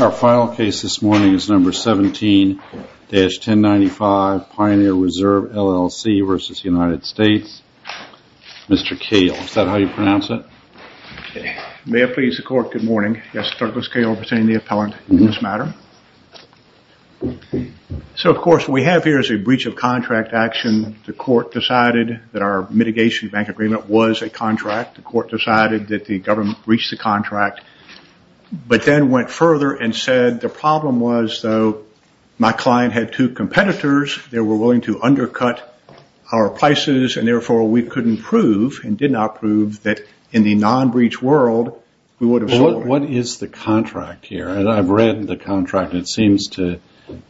Our final case this morning is number 17-1095 Pioneer Reserve, LLC v. United States. Mr. Cale, is that how you pronounce it? May it please the court, good morning. Yes, Douglas Cale representing the appellant in this matter. So of course what we have here is a breach of contract action. The court decided that our mitigation bank agreement was a contract. The court decided that the government reached the contract, but then went further and said the problem was though my client had two competitors, they were willing to undercut our prices and therefore we couldn't prove and did not prove that in the non-breach world we would have solved it. What is the contract here? I've read the contract and it seems to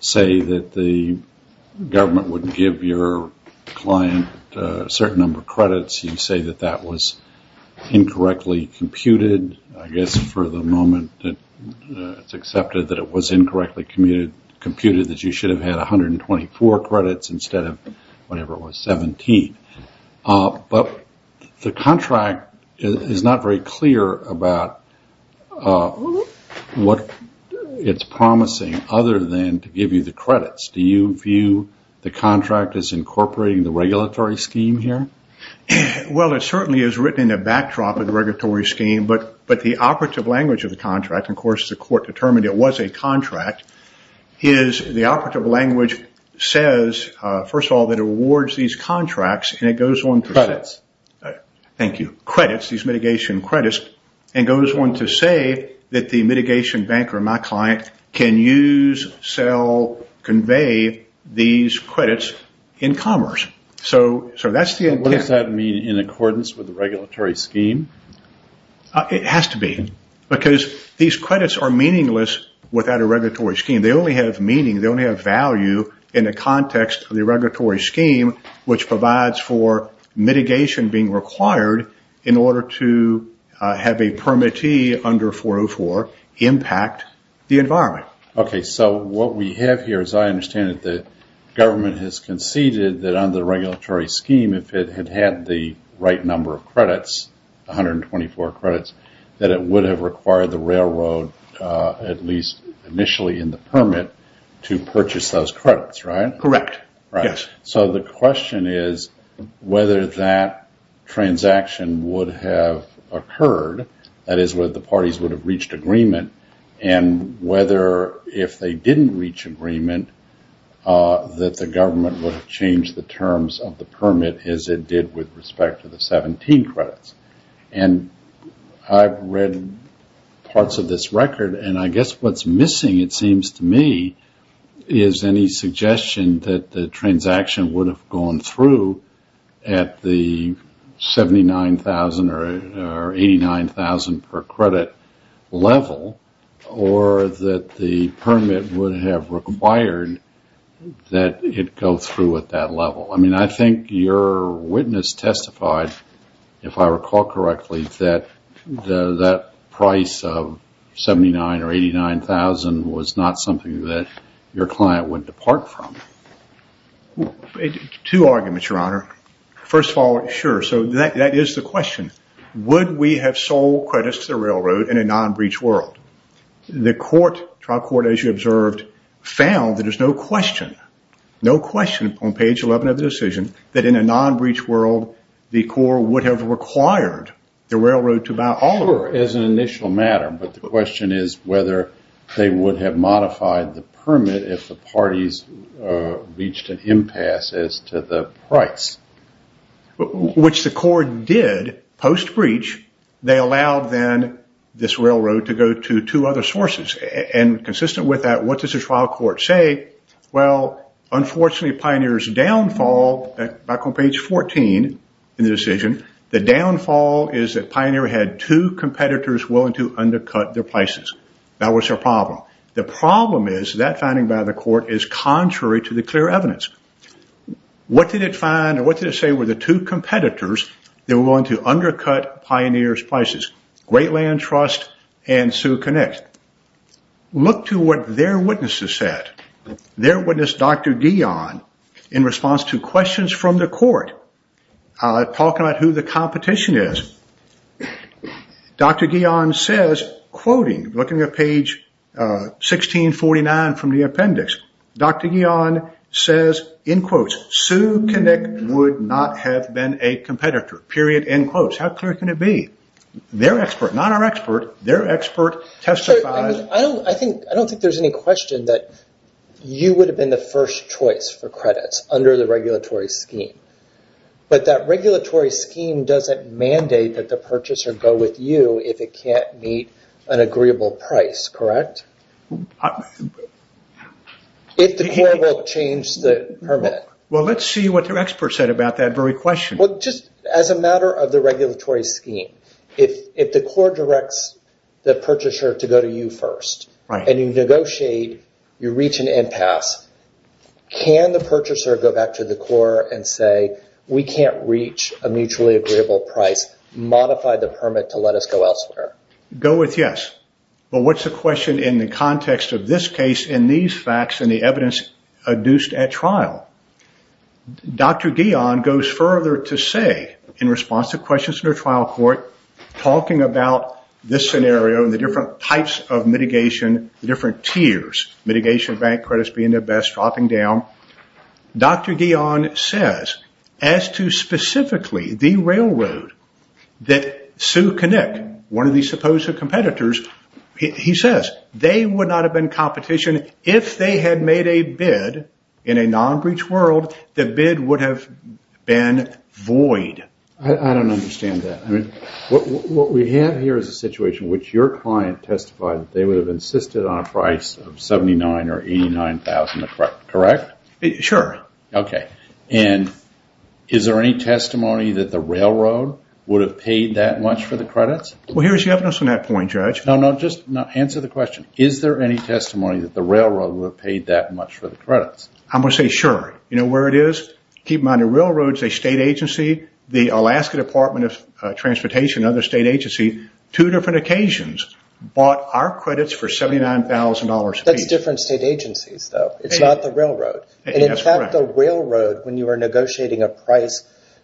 say that the government would give your client a certain number of credits. You say that that was incorrectly computed, I guess for the moment that it's accepted that it was incorrectly computed that you should have had 124 credits instead of whatever it was, 17. But the contract is not very clear about what it's promising other than to give you the credits. Do you view the contract as incorporating the regulatory scheme here? Well it certainly is written in a backdrop of the regulatory scheme, but the operative language of the contract, of course the court determined it was a contract, is the operative language says first of all that it awards these contracts and it goes on to say that the mitigation banker, my client, can use, sell, convey these credits in commerce. What does that mean in accordance with the regulatory scheme? It has to be because these credits are meaningless without a regulatory scheme. They only have value in the context of the regulatory scheme, which provides for mitigation being required in order to have a permittee under 404 impact the environment. Okay, so what we have here, as I understand it, the government has conceded that under the regulatory scheme, if it had had the right number of credits, 124 credits, that it would have required the railroad, at least initially in the permit, to purchase those credits, right? Correct. So the question is whether that transaction would have occurred, that is where the parties would have reached agreement, and whether if they didn't reach agreement, that the government would have changed the terms of the permit as it did with respect to the 17 credits. And I've read parts of this record, and I guess what's missing, it seems to me, is any suggestion that the transaction would have gone through at the 79,000 or 89,000 per credit level, or that the permit would have required that it go through at that level. I mean, I think your witness testified, if I recall correctly, that that price of 79 or 89,000 was not something that your client would depart from. Two arguments, Your Honor. First of all, sure, so that is the question. Would we have sold credits to the railroad in a non-breach world? The court, trial court, as you observed, found that there's no question, no question on page 11 of the decision that in a non-breach world, the court would have required the railroad to buy all of it. Sure, as an initial matter, but the question is whether they would have modified the permit if the parties reached an impasse as to the price. Which the court did, post-breach, they allowed then this railroad to go to two other sources, and consistent with that, what does the trial court say? Well, unfortunately, Pioneer's downfall, back on page 14 in the decision, the downfall is that Pioneer had two competitors willing to undercut their prices. That was their problem. The problem is, that finding by the court is contrary to the clear evidence. What did it find, or what did it say were the two competitors that were willing to undercut Pioneer's prices? Great Land Trust and Sioux Connect. Look to what their witnesses said. Their witness, Dr. Guion, in response to questions from the court, talking about who the competition is. Dr. Guion says, quoting, looking at page 1649 from the appendix, Dr. Guion says, in quotes, Sioux Connect would not have been a competitor, period, in quotes. How clear can it be? Their expert, not our expert, their expert testified. I don't think there's any question that you would have been the first choice for credits under the regulatory scheme. That regulatory scheme doesn't mandate that the purchaser go with you if it can't meet an agreeable price, correct? If the court will change the permit. Let's see what their expert said about that very question. As a matter of the regulatory scheme, if the court directs the purchaser to go to you first, and you negotiate, you reach an impasse, can the purchaser go back to the court and say, we can't reach a mutually agreeable price, modify the permit to let us go elsewhere? Go with yes. But what's the question in the context of this case and these facts and the evidence adduced at trial? Dr. Guion goes further to say, in response to questions in the trial court, talking about this scenario and the different types of mitigation, the different tiers, mitigation bank credits being the best, dropping down, Dr. Guion says, as to specifically the railroad that Sioux Connect, one of the supposed competitors, he says, they would not have been competition if they had made a bid in a non-breach world, the bid would have been void. I don't understand that. What we have here is a situation in which your client testified that they would have insisted on a price of $79,000 or $89,000, correct? Sure. Okay. And is there any testimony that the railroad would have paid that much for the credits? Well, here's the evidence on that point, Judge. No, no, just answer the question. Is there any testimony that the railroad would have paid that much for the credits? I'm going to say sure. You know where the railroad is a state agency, the Alaska Department of Transportation, another state agency, two different occasions, bought our credits for $79,000. That's different state agencies, though. It's not the railroad. In fact, the railroad, when you were negotiating a price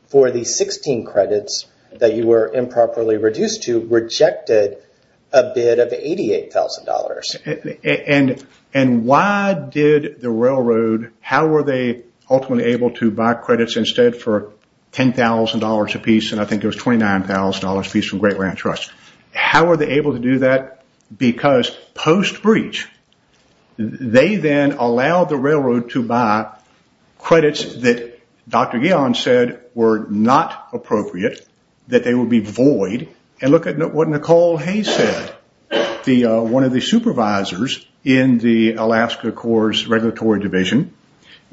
for the 16 credits that you were improperly reduced to, rejected a bid of $88,000. And why did the railroad, how were they ultimately able to buy credits instead for $10,000 apiece, and I think it was $29,000 apiece from Great Ranch Trust. How were they able to do that? Because post-breach, they then allowed the railroad to buy credits that Dr. Guion said were not appropriate, that they would be void. And look at what Nicole Hayes said, one of the supervisors in the Alaska Corps Regulatory Division.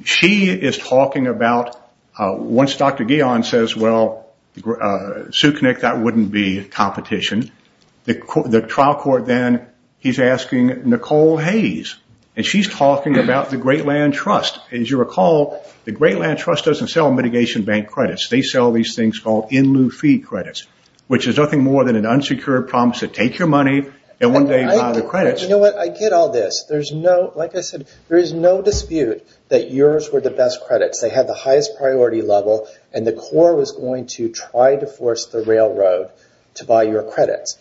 She is talking about, once Dr. Guion says, well, Suknyik, that wouldn't be competition. The trial court then, he's asking Nicole Hayes, and she's talking about the Great Land Trust. As you recall, the Great Land Trust doesn't sell mitigation bank credits. They sell these things called in-lieu fee credits, which is nothing more than an unsecured promise to take your money and one day buy the credits. You know what? I get all this. There's no, like I said, there is no dispute that yours were the best credits. They had the highest priority level, and the Corps was going to try to force the railroad to buy your credits.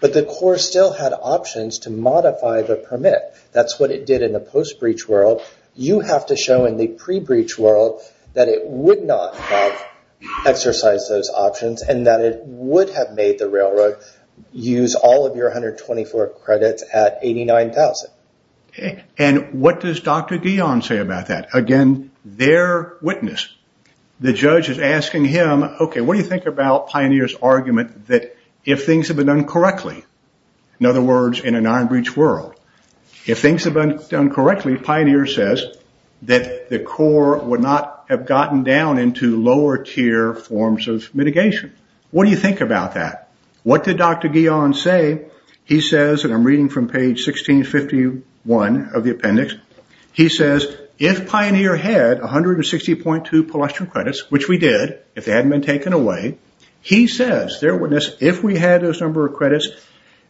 But the Corps still had options to modify the permit. That's what it in a post-breach world. You have to show in the pre-breach world that it would not have exercised those options and that it would have made the railroad use all of your 124 credits at 89,000. And what does Dr. Guion say about that? Again, their witness. The judge is asking him, okay, what do you think about Pioneer's argument that if things have been done correctly, in other words, in an iron breach world, if things have been done correctly, Pioneer says that the Corps would not have gotten down into lower tier forms of mitigation. What do you think about that? What did Dr. Guion say? He says, and I'm reading from page 1651 of the appendix, he says, if Pioneer had 160.2 pedestrian credits, which we did, if they hadn't been taken away, he says, their witness, if we had those number of credits,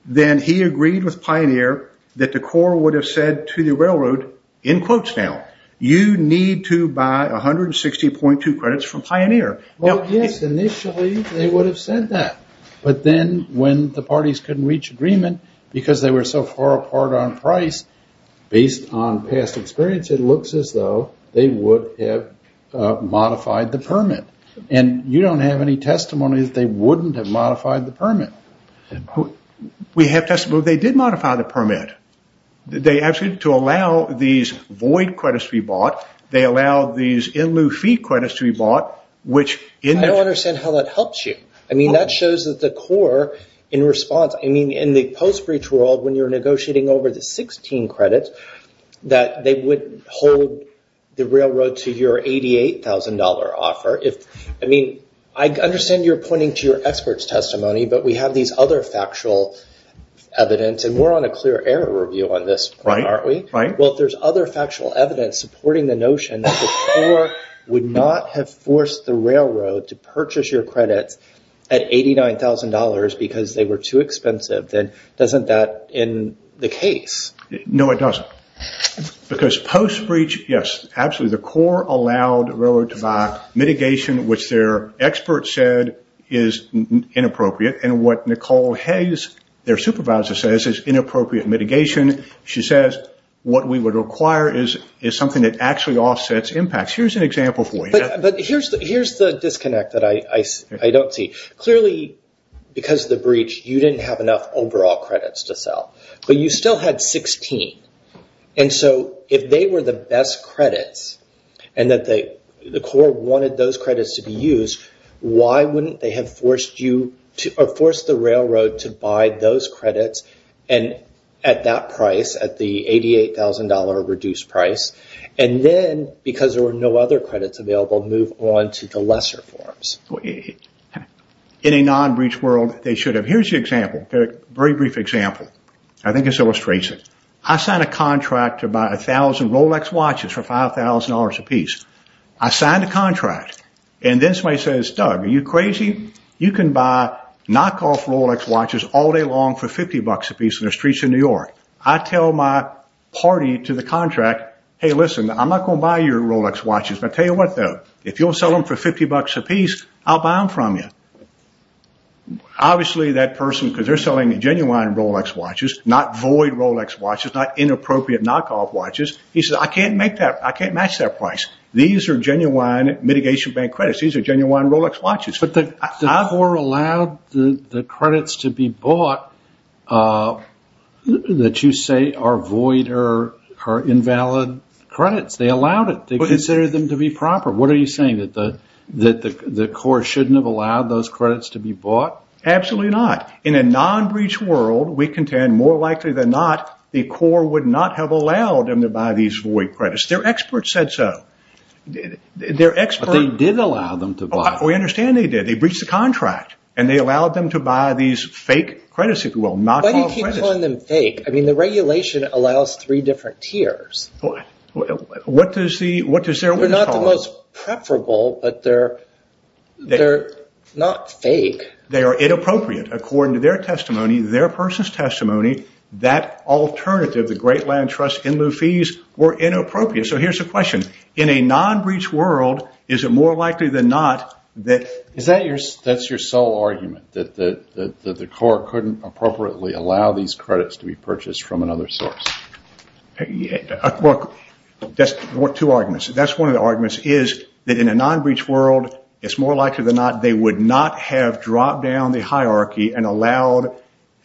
then he agreed with Pioneer that the Corps would have said to the railroad, in quotes now, you need to buy 160.2 credits from Pioneer. Well, yes, initially they would have said that. But then when the parties couldn't reach agreement because they were so far apart on price, based on past experience, it looks as though they would have modified the permit. And you don't have any testimony that they wouldn't have modified the permit. We have testimony that they did modify the permit. They actually, to allow these void credits to be bought, they allowed these in lieu fee credits to be bought, which in their... I don't understand how that helps you. I mean, that shows that the Corps, in response, I mean, in the post-breach world, when you're negotiating over the 16 credits, that they would hold the railroad to your $88,000 offer. I mean, I understand you're pointing to your expert's testimony, but we have these other factual evidence, and we're on a clear air review on this point, aren't we? Well, if there's other factual evidence supporting the notion that the Corps would not have forced the railroad to purchase your credits at $89,000 because they were too expensive, then doesn't that end the case? No, it doesn't. Because post-breach, yes, absolutely, the Corps allowed railroad to buy mitigation, which their expert said is inappropriate. And what Nicole Hayes, their supervisor, says is inappropriate mitigation. She says what we would require is something that actually offsets impacts. Here's an example for you. But here's the have enough overall credits to sell, but you still had 16. And so if they were the best credits, and that the Corps wanted those credits to be used, why wouldn't they have forced the railroad to buy those credits at that price, at the $88,000 reduced price? And then, because there were no other credits available, move on to the lesser forms. In a non-breach world, they should have. Here's the example, a very brief example. I think it illustrates it. I signed a contract to buy a thousand Rolex watches for $5,000 a piece. I signed a contract. And then somebody says, Doug, are you crazy? You can buy knockoff Rolex watches all day long for $50 a piece in the streets of New York. I tell my party to the contract, hey, listen, I'm not going to buy your Rolex watches. But I tell you what, though, if you'll sell them for $50 a piece, I'll buy them from you. Obviously, that person, because they're selling genuine Rolex watches, not void Rolex watches, not inappropriate knockoff watches, he says, I can't match that price. These are genuine mitigation bank credits. These are genuine Rolex watches. But the Corps allowed the credits to be bought that you say are void or that the Corps shouldn't have allowed those credits to be bought? Absolutely not. In a non-breach world, we contend more likely than not, the Corps would not have allowed them to buy these void credits. Their experts said so. But they did allow them to buy. We understand they did. They breached the contract. And they allowed them to buy these fake credits, if you will, knockoff credits. Why do you keep calling them fake? I mean, the regulation allows three different tiers. What does their rule call it? They're not the most preferable, but they're not fake. They are inappropriate. According to their testimony, their person's testimony, that alternative, the Great Land Trust in lieu of fees, were inappropriate. So here's the question, in a non-breach world, is it more likely than not that... That's your sole argument, that the Corps couldn't appropriately allow these credits to be purchased from another source? Yeah. Well, that's two arguments. That's one of the arguments, is that in a non-breach world, it's more likely than not, they would not have dropped down the hierarchy and allowed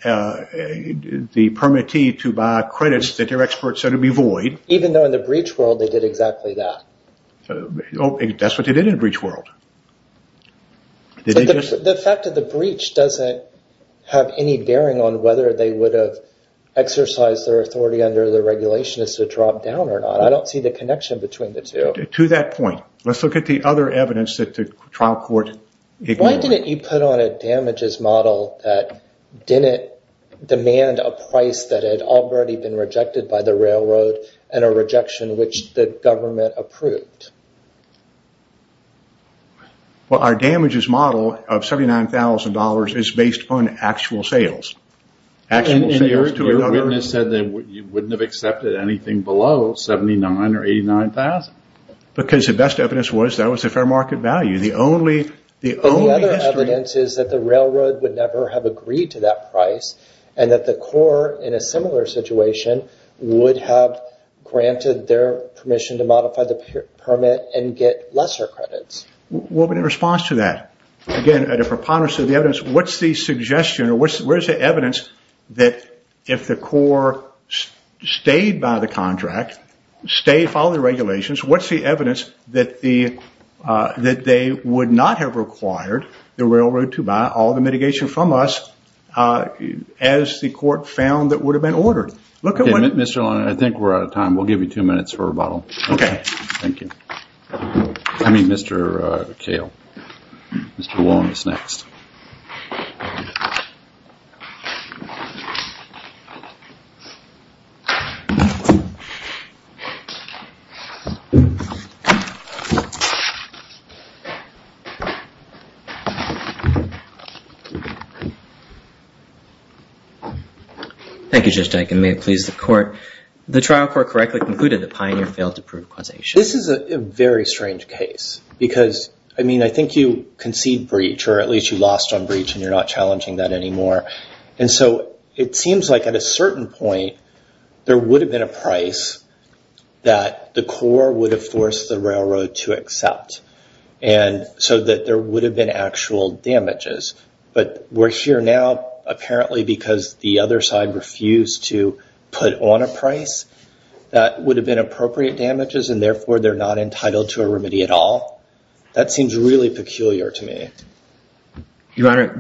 the permittee to buy credits that their experts said would be void. Even though in the breach world, they did exactly that? That's what they did in the breach world. The fact that the breach doesn't have any bearing on whether they would have exercised their authority under the regulation is to drop down or not. I don't see the connection between the two. To that point, let's look at the other evidence that the trial court ignored. Why didn't you put on a damages model that didn't demand a price that had already been rejected by the railroad and a rejection which the government approved? Well, our damages model of $79,000 is based on actual sales. And your witness said that you wouldn't have accepted anything below $79,000 or $89,000? Because the best evidence was that was a fair market value. The other evidence is that the railroad would never have agreed to that price and that the Corps, in a similar situation, would have granted their permission to modify the permit and get lesser credits. What would be the response to that? Again, at a preponderance of the evidence, what's the suggestion or where's the evidence that if the Corps stayed by the contract, stayed, followed the regulations, what's the evidence that they would not have required the railroad to buy all the mitigation from us as the court found that would have been ordered? Mr. O'Connor, I think we're out of time. We'll give you two minutes for rebuttal. Thank you. I mean, Mr. Kale. Mr. Wong is next. Thank you, Judge Diken. May it please the Court. The trial court correctly concluded that Pioneer failed to prove causation. This is a very strange case because, I mean, I think you concede breach or at least you lost on breach and you're not challenging that anymore. And so it seems like at a certain point, there would have been a price that the Corps would have forced the railroad to accept. And so that there would have been actual damages. But we're here now apparently because the other side refused to put on a price that would have been appropriate damages and therefore they're not entitled to a remedy at all. That seems really peculiar to me. Your Honor,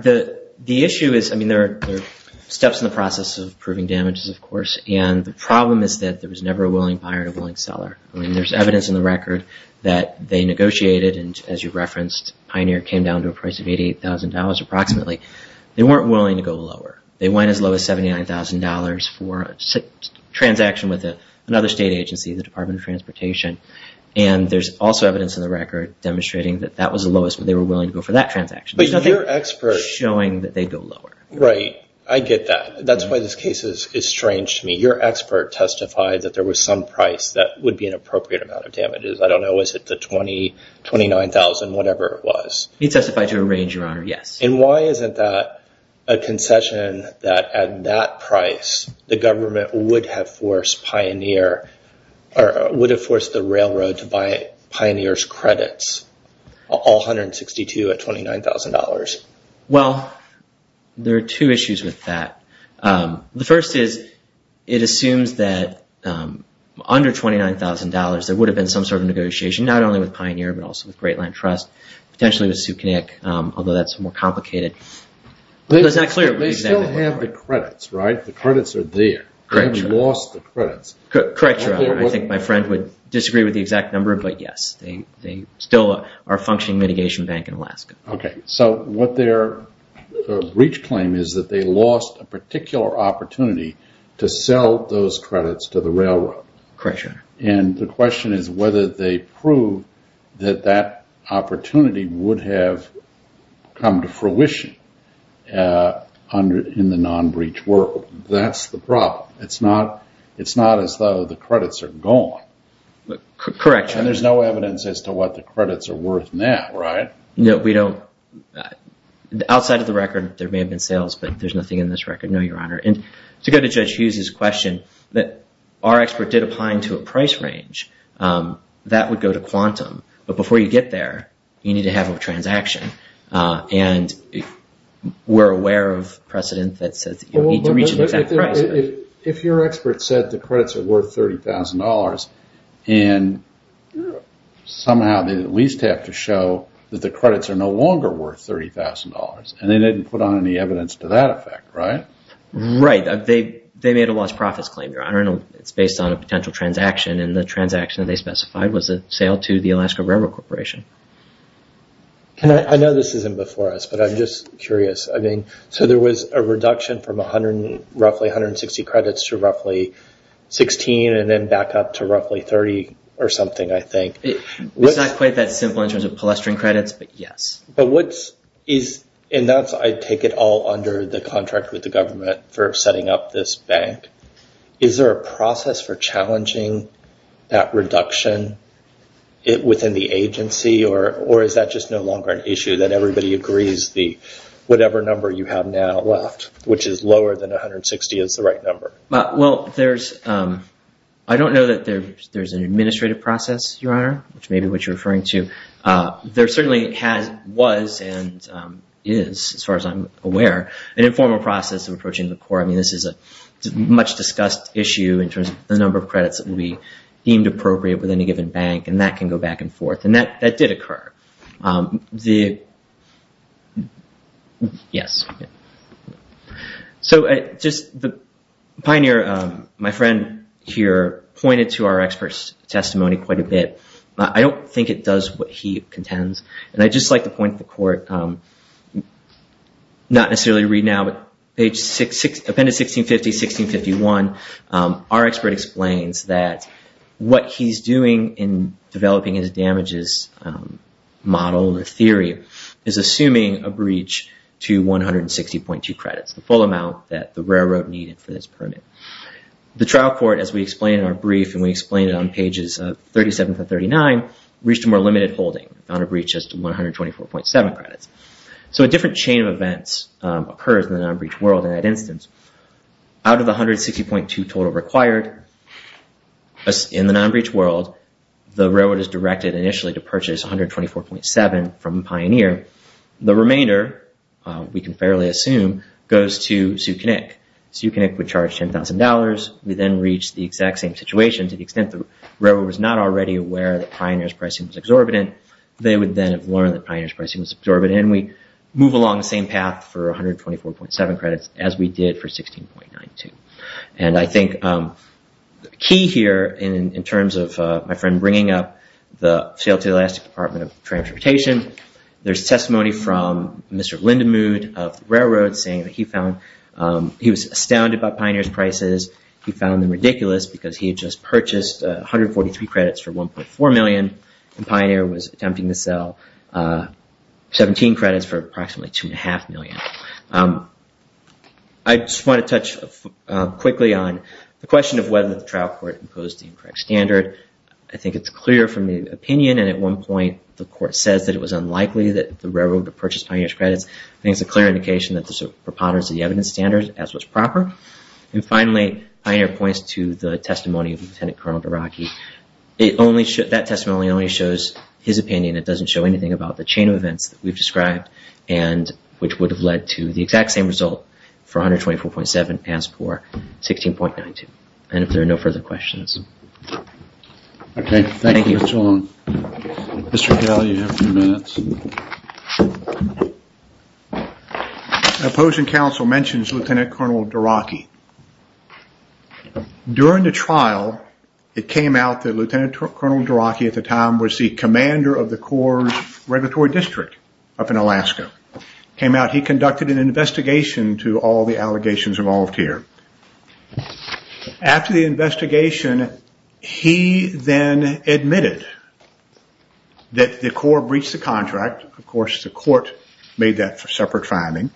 the issue is, I mean, there are steps in the process of proving damages, of course. And the problem is that there was never a willing buyer and a willing seller. I mean, there's evidence in the record that they negotiated and, as you referenced, Pioneer came down to a price of $88,000 approximately. They weren't willing to go lower. They went as low as $79,000 for a transaction with another state agency, the Department of Transportation. And there's also evidence in the record demonstrating that that was the lowest where they were willing to go for that transaction. But your expert... Showing that they'd go lower. Right. I get that. That's why this case is strange to me. Your expert testified that there was some price that would be an appropriate amount of damages. I don't know, is it the $20,000, $29,000, whatever it was. It testified to a range, Your Honor. Yes. And why isn't that a concession that, at that price, the government would have forced Pioneer or would have forced the railroad to buy Pioneer's credits, all $162,000 at $29,000? Well, there are two issues with that. The first is it assumes that under $29,000, there would have been some sort of negotiation, not only with Pioneer, but also with Great Connecticut, although that's more complicated. They still have the credits, right? The credits are there. They've lost the credits. Correct, Your Honor. I think my friend would disagree with the exact number, but yes, they still are a functioning mitigation bank in Alaska. Okay. So what their breach claim is that they lost a particular opportunity to sell those credits to the railroad. Correct, Your Honor. And the question is whether they proved that that opportunity would have come to fruition in the non-breach world. That's the problem. It's not as though the credits are gone. Correct, Your Honor. And there's no evidence as to what the credits are worth now, right? No, we don't. Outside of the record, there may have been sales, but there's nothing in this record. No, Your Honor. To go to Judge Hughes's question that our expert did apply to a price range, that would go to quantum. But before you get there, you need to have a transaction. And we're aware of precedent that says you need to reach an exact price. If your expert said the credits are worth $30,000, and somehow they at least have to show that the credits are no longer worth $30,000, and they didn't put on any evidence to that effect, right? Right. They made a lost profits claim, Your Honor. It's based on a potential transaction, and the transaction they specified was a sale to the Alaska Railroad Corporation. I know this isn't before us, but I'm just curious. So there was a reduction from roughly 160 credits to roughly 16, and then back up to roughly 30 or something, I think. It's not quite that simple in terms of clustering credits, but yes. But what is... And that's, I take it, all under the contract with the government for setting up this bank. Is there a process for challenging that reduction within the agency, or is that just no longer an issue that everybody agrees the whatever number you have now left, which is lower than 160, is the right number? Well, I don't know that there's an administrative process, Your Honor, which may be what you're and is, as far as I'm aware, an informal process of approaching the court. I mean, this is a much discussed issue in terms of the number of credits that will be deemed appropriate within a given bank, and that can go back and forth. And that did occur. Yes. So just the pioneer, my friend here, pointed to our expert's testimony quite a bit. I don't think it does what he contends, and I'd just like to point to the court, not necessarily to read now, but page... Appendix 1650, 1651, our expert explains that what he's doing in developing his damages model, the theory, is assuming a breach to 160.2 credits, the full amount that the railroad needed for this permit. The trial court, as we explained in our case, page 139, reached a more limited holding on a breach as to 124.7 credits. So a different chain of events occurs in the non-breach world in that instance. Out of the 160.2 total required in the non-breach world, the railroad is directed initially to purchase 124.7 from Pioneer. The remainder, we can fairly assume, goes to Sue Kinnick. Sue Kinnick would charge $10,000. We then reach the exact same situation to the extent the railroad was not already aware that Pioneer's pricing was exorbitant. They would then have learned that Pioneer's pricing was exorbitant, and we move along the same path for 124.7 credits as we did for 16.92. And I think the key here, in terms of my friend bringing up the Seattle State Department of Transportation, there's testimony from Mr. Lindemood of the railroad saying that he found... He was astounded by the evidence. He found them ridiculous because he had just purchased 143 credits for $1.4 million, and Pioneer was attempting to sell 17 credits for approximately $2.5 million. I just want to touch quickly on the question of whether the trial court imposed the incorrect standard. I think it's clear from the opinion, and at one point the court says that it was unlikely that the railroad would have purchased Pioneer's credits. I think it's a clear indication that preponderance of the evidence standard as was proper. And finally, Pioneer points to the testimony of Lieutenant Colonel DeRocky. That testimony only shows his opinion. It doesn't show anything about the chain of events that we've described, which would have led to the exact same result for 124.7 as for 16.92. And if there are no further questions. Okay, thank you. Mr. Galli, a few minutes. Opposing counsel mentions Lieutenant Colonel DeRocky. During the trial, it came out that Lieutenant Colonel DeRocky at the time was the commander of the Corps Regulatory District up in Alaska. Came out, he conducted an investigation to all allegations involved here. After the investigation, he then admitted that the Corps breached the contract. Of course, the court made that separate finding.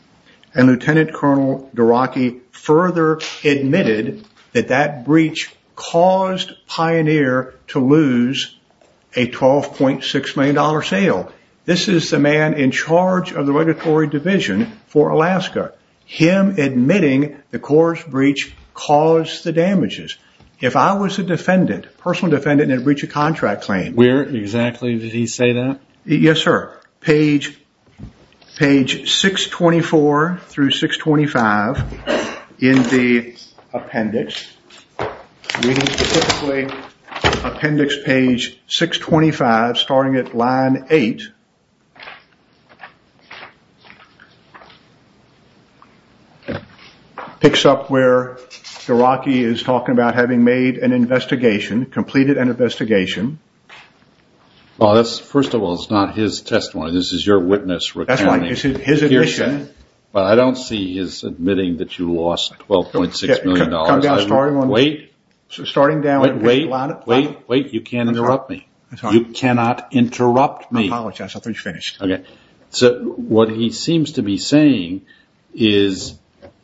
And Lieutenant Colonel DeRocky further admitted that that breach caused Pioneer to lose a $12.6 million sale. This is the man in charge of the Regulatory Division for Alaska. Him admitting the Corps breach caused the damages. If I was a defendant, personal defendant, and I breached a contract claim. Where exactly did he say that? Yes, sir. Page 624 through 625 in the appendix. Appendix page 625 starting at line 8. Picks up where DeRocky is talking about having made an investigation, completed an investigation. Well, first of all, this is not his testimony. This is your witness recounting his admission. But I don't see his admitting that you lost $12.6 million. Wait, wait, wait, you can't interrupt me. You cannot interrupt me. I apologize. I thought you finished. Okay. So what he seems to be saying is,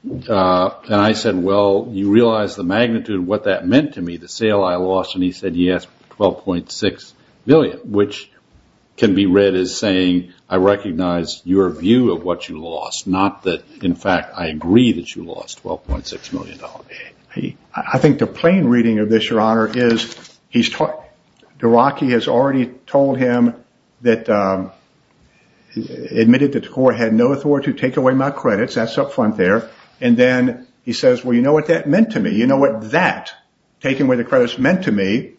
and I said, well, you realize the magnitude of what that meant to me, the sale I lost? And he said, yes, $12.6 million, which can be read as saying, I recognize your view of what you lost. Not that, in fact, I agree that you lost $12.6 million. I think the plain reading of this, Your Honor, is DeRocky has already told him that, admitted that the court had no authority to take away my credits. That's up front there. And then he says, well, you know what that meant to me? You know what that, taking away the credits, meant to me?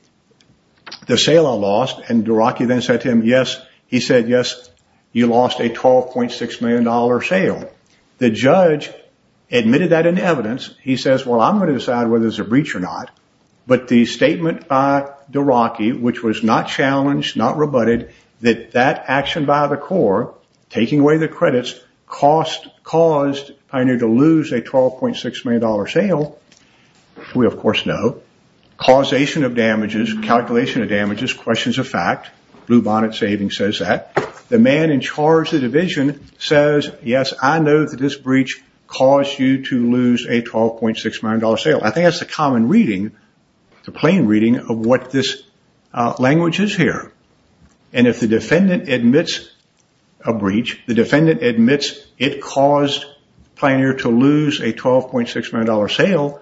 The sale I lost. And DeRocky then said to him, yes, he said, yes, you lost a $12.6 million sale. The judge admitted that in evidence. He says, well, I'm going to decide whether it's a breach or not. But the statement by DeRocky, which was not challenged, not rebutted, that that action by the court, taking away the credits, caused Pioneer to lose a $12.6 million sale, we of course know, causation of damages, calculation of damages, questions of fact, Blue Bonnet Savings says that. The man in charge of the division says, yes, I know that this breach caused you to lose a $12.6 million sale. I think that's the common reading, the plain reading of what this language is here. And if the defendant admits a breach, the defendant admits it caused Pioneer to lose a $12.6 million sale,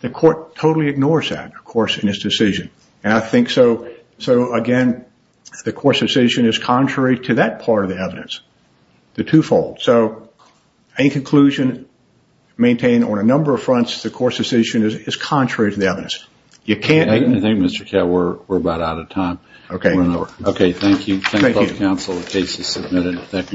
the court totally ignores that, of course, in his decision. And I think so, again, the court's decision is contrary to that part of the evidence, the twofold. So any conclusion maintained on a number of fronts, the court's decision is contrary to the evidence. I think, Mr. Katt, we're about out of time. Okay. Thank you. Thank you, counsel. The case is submitted.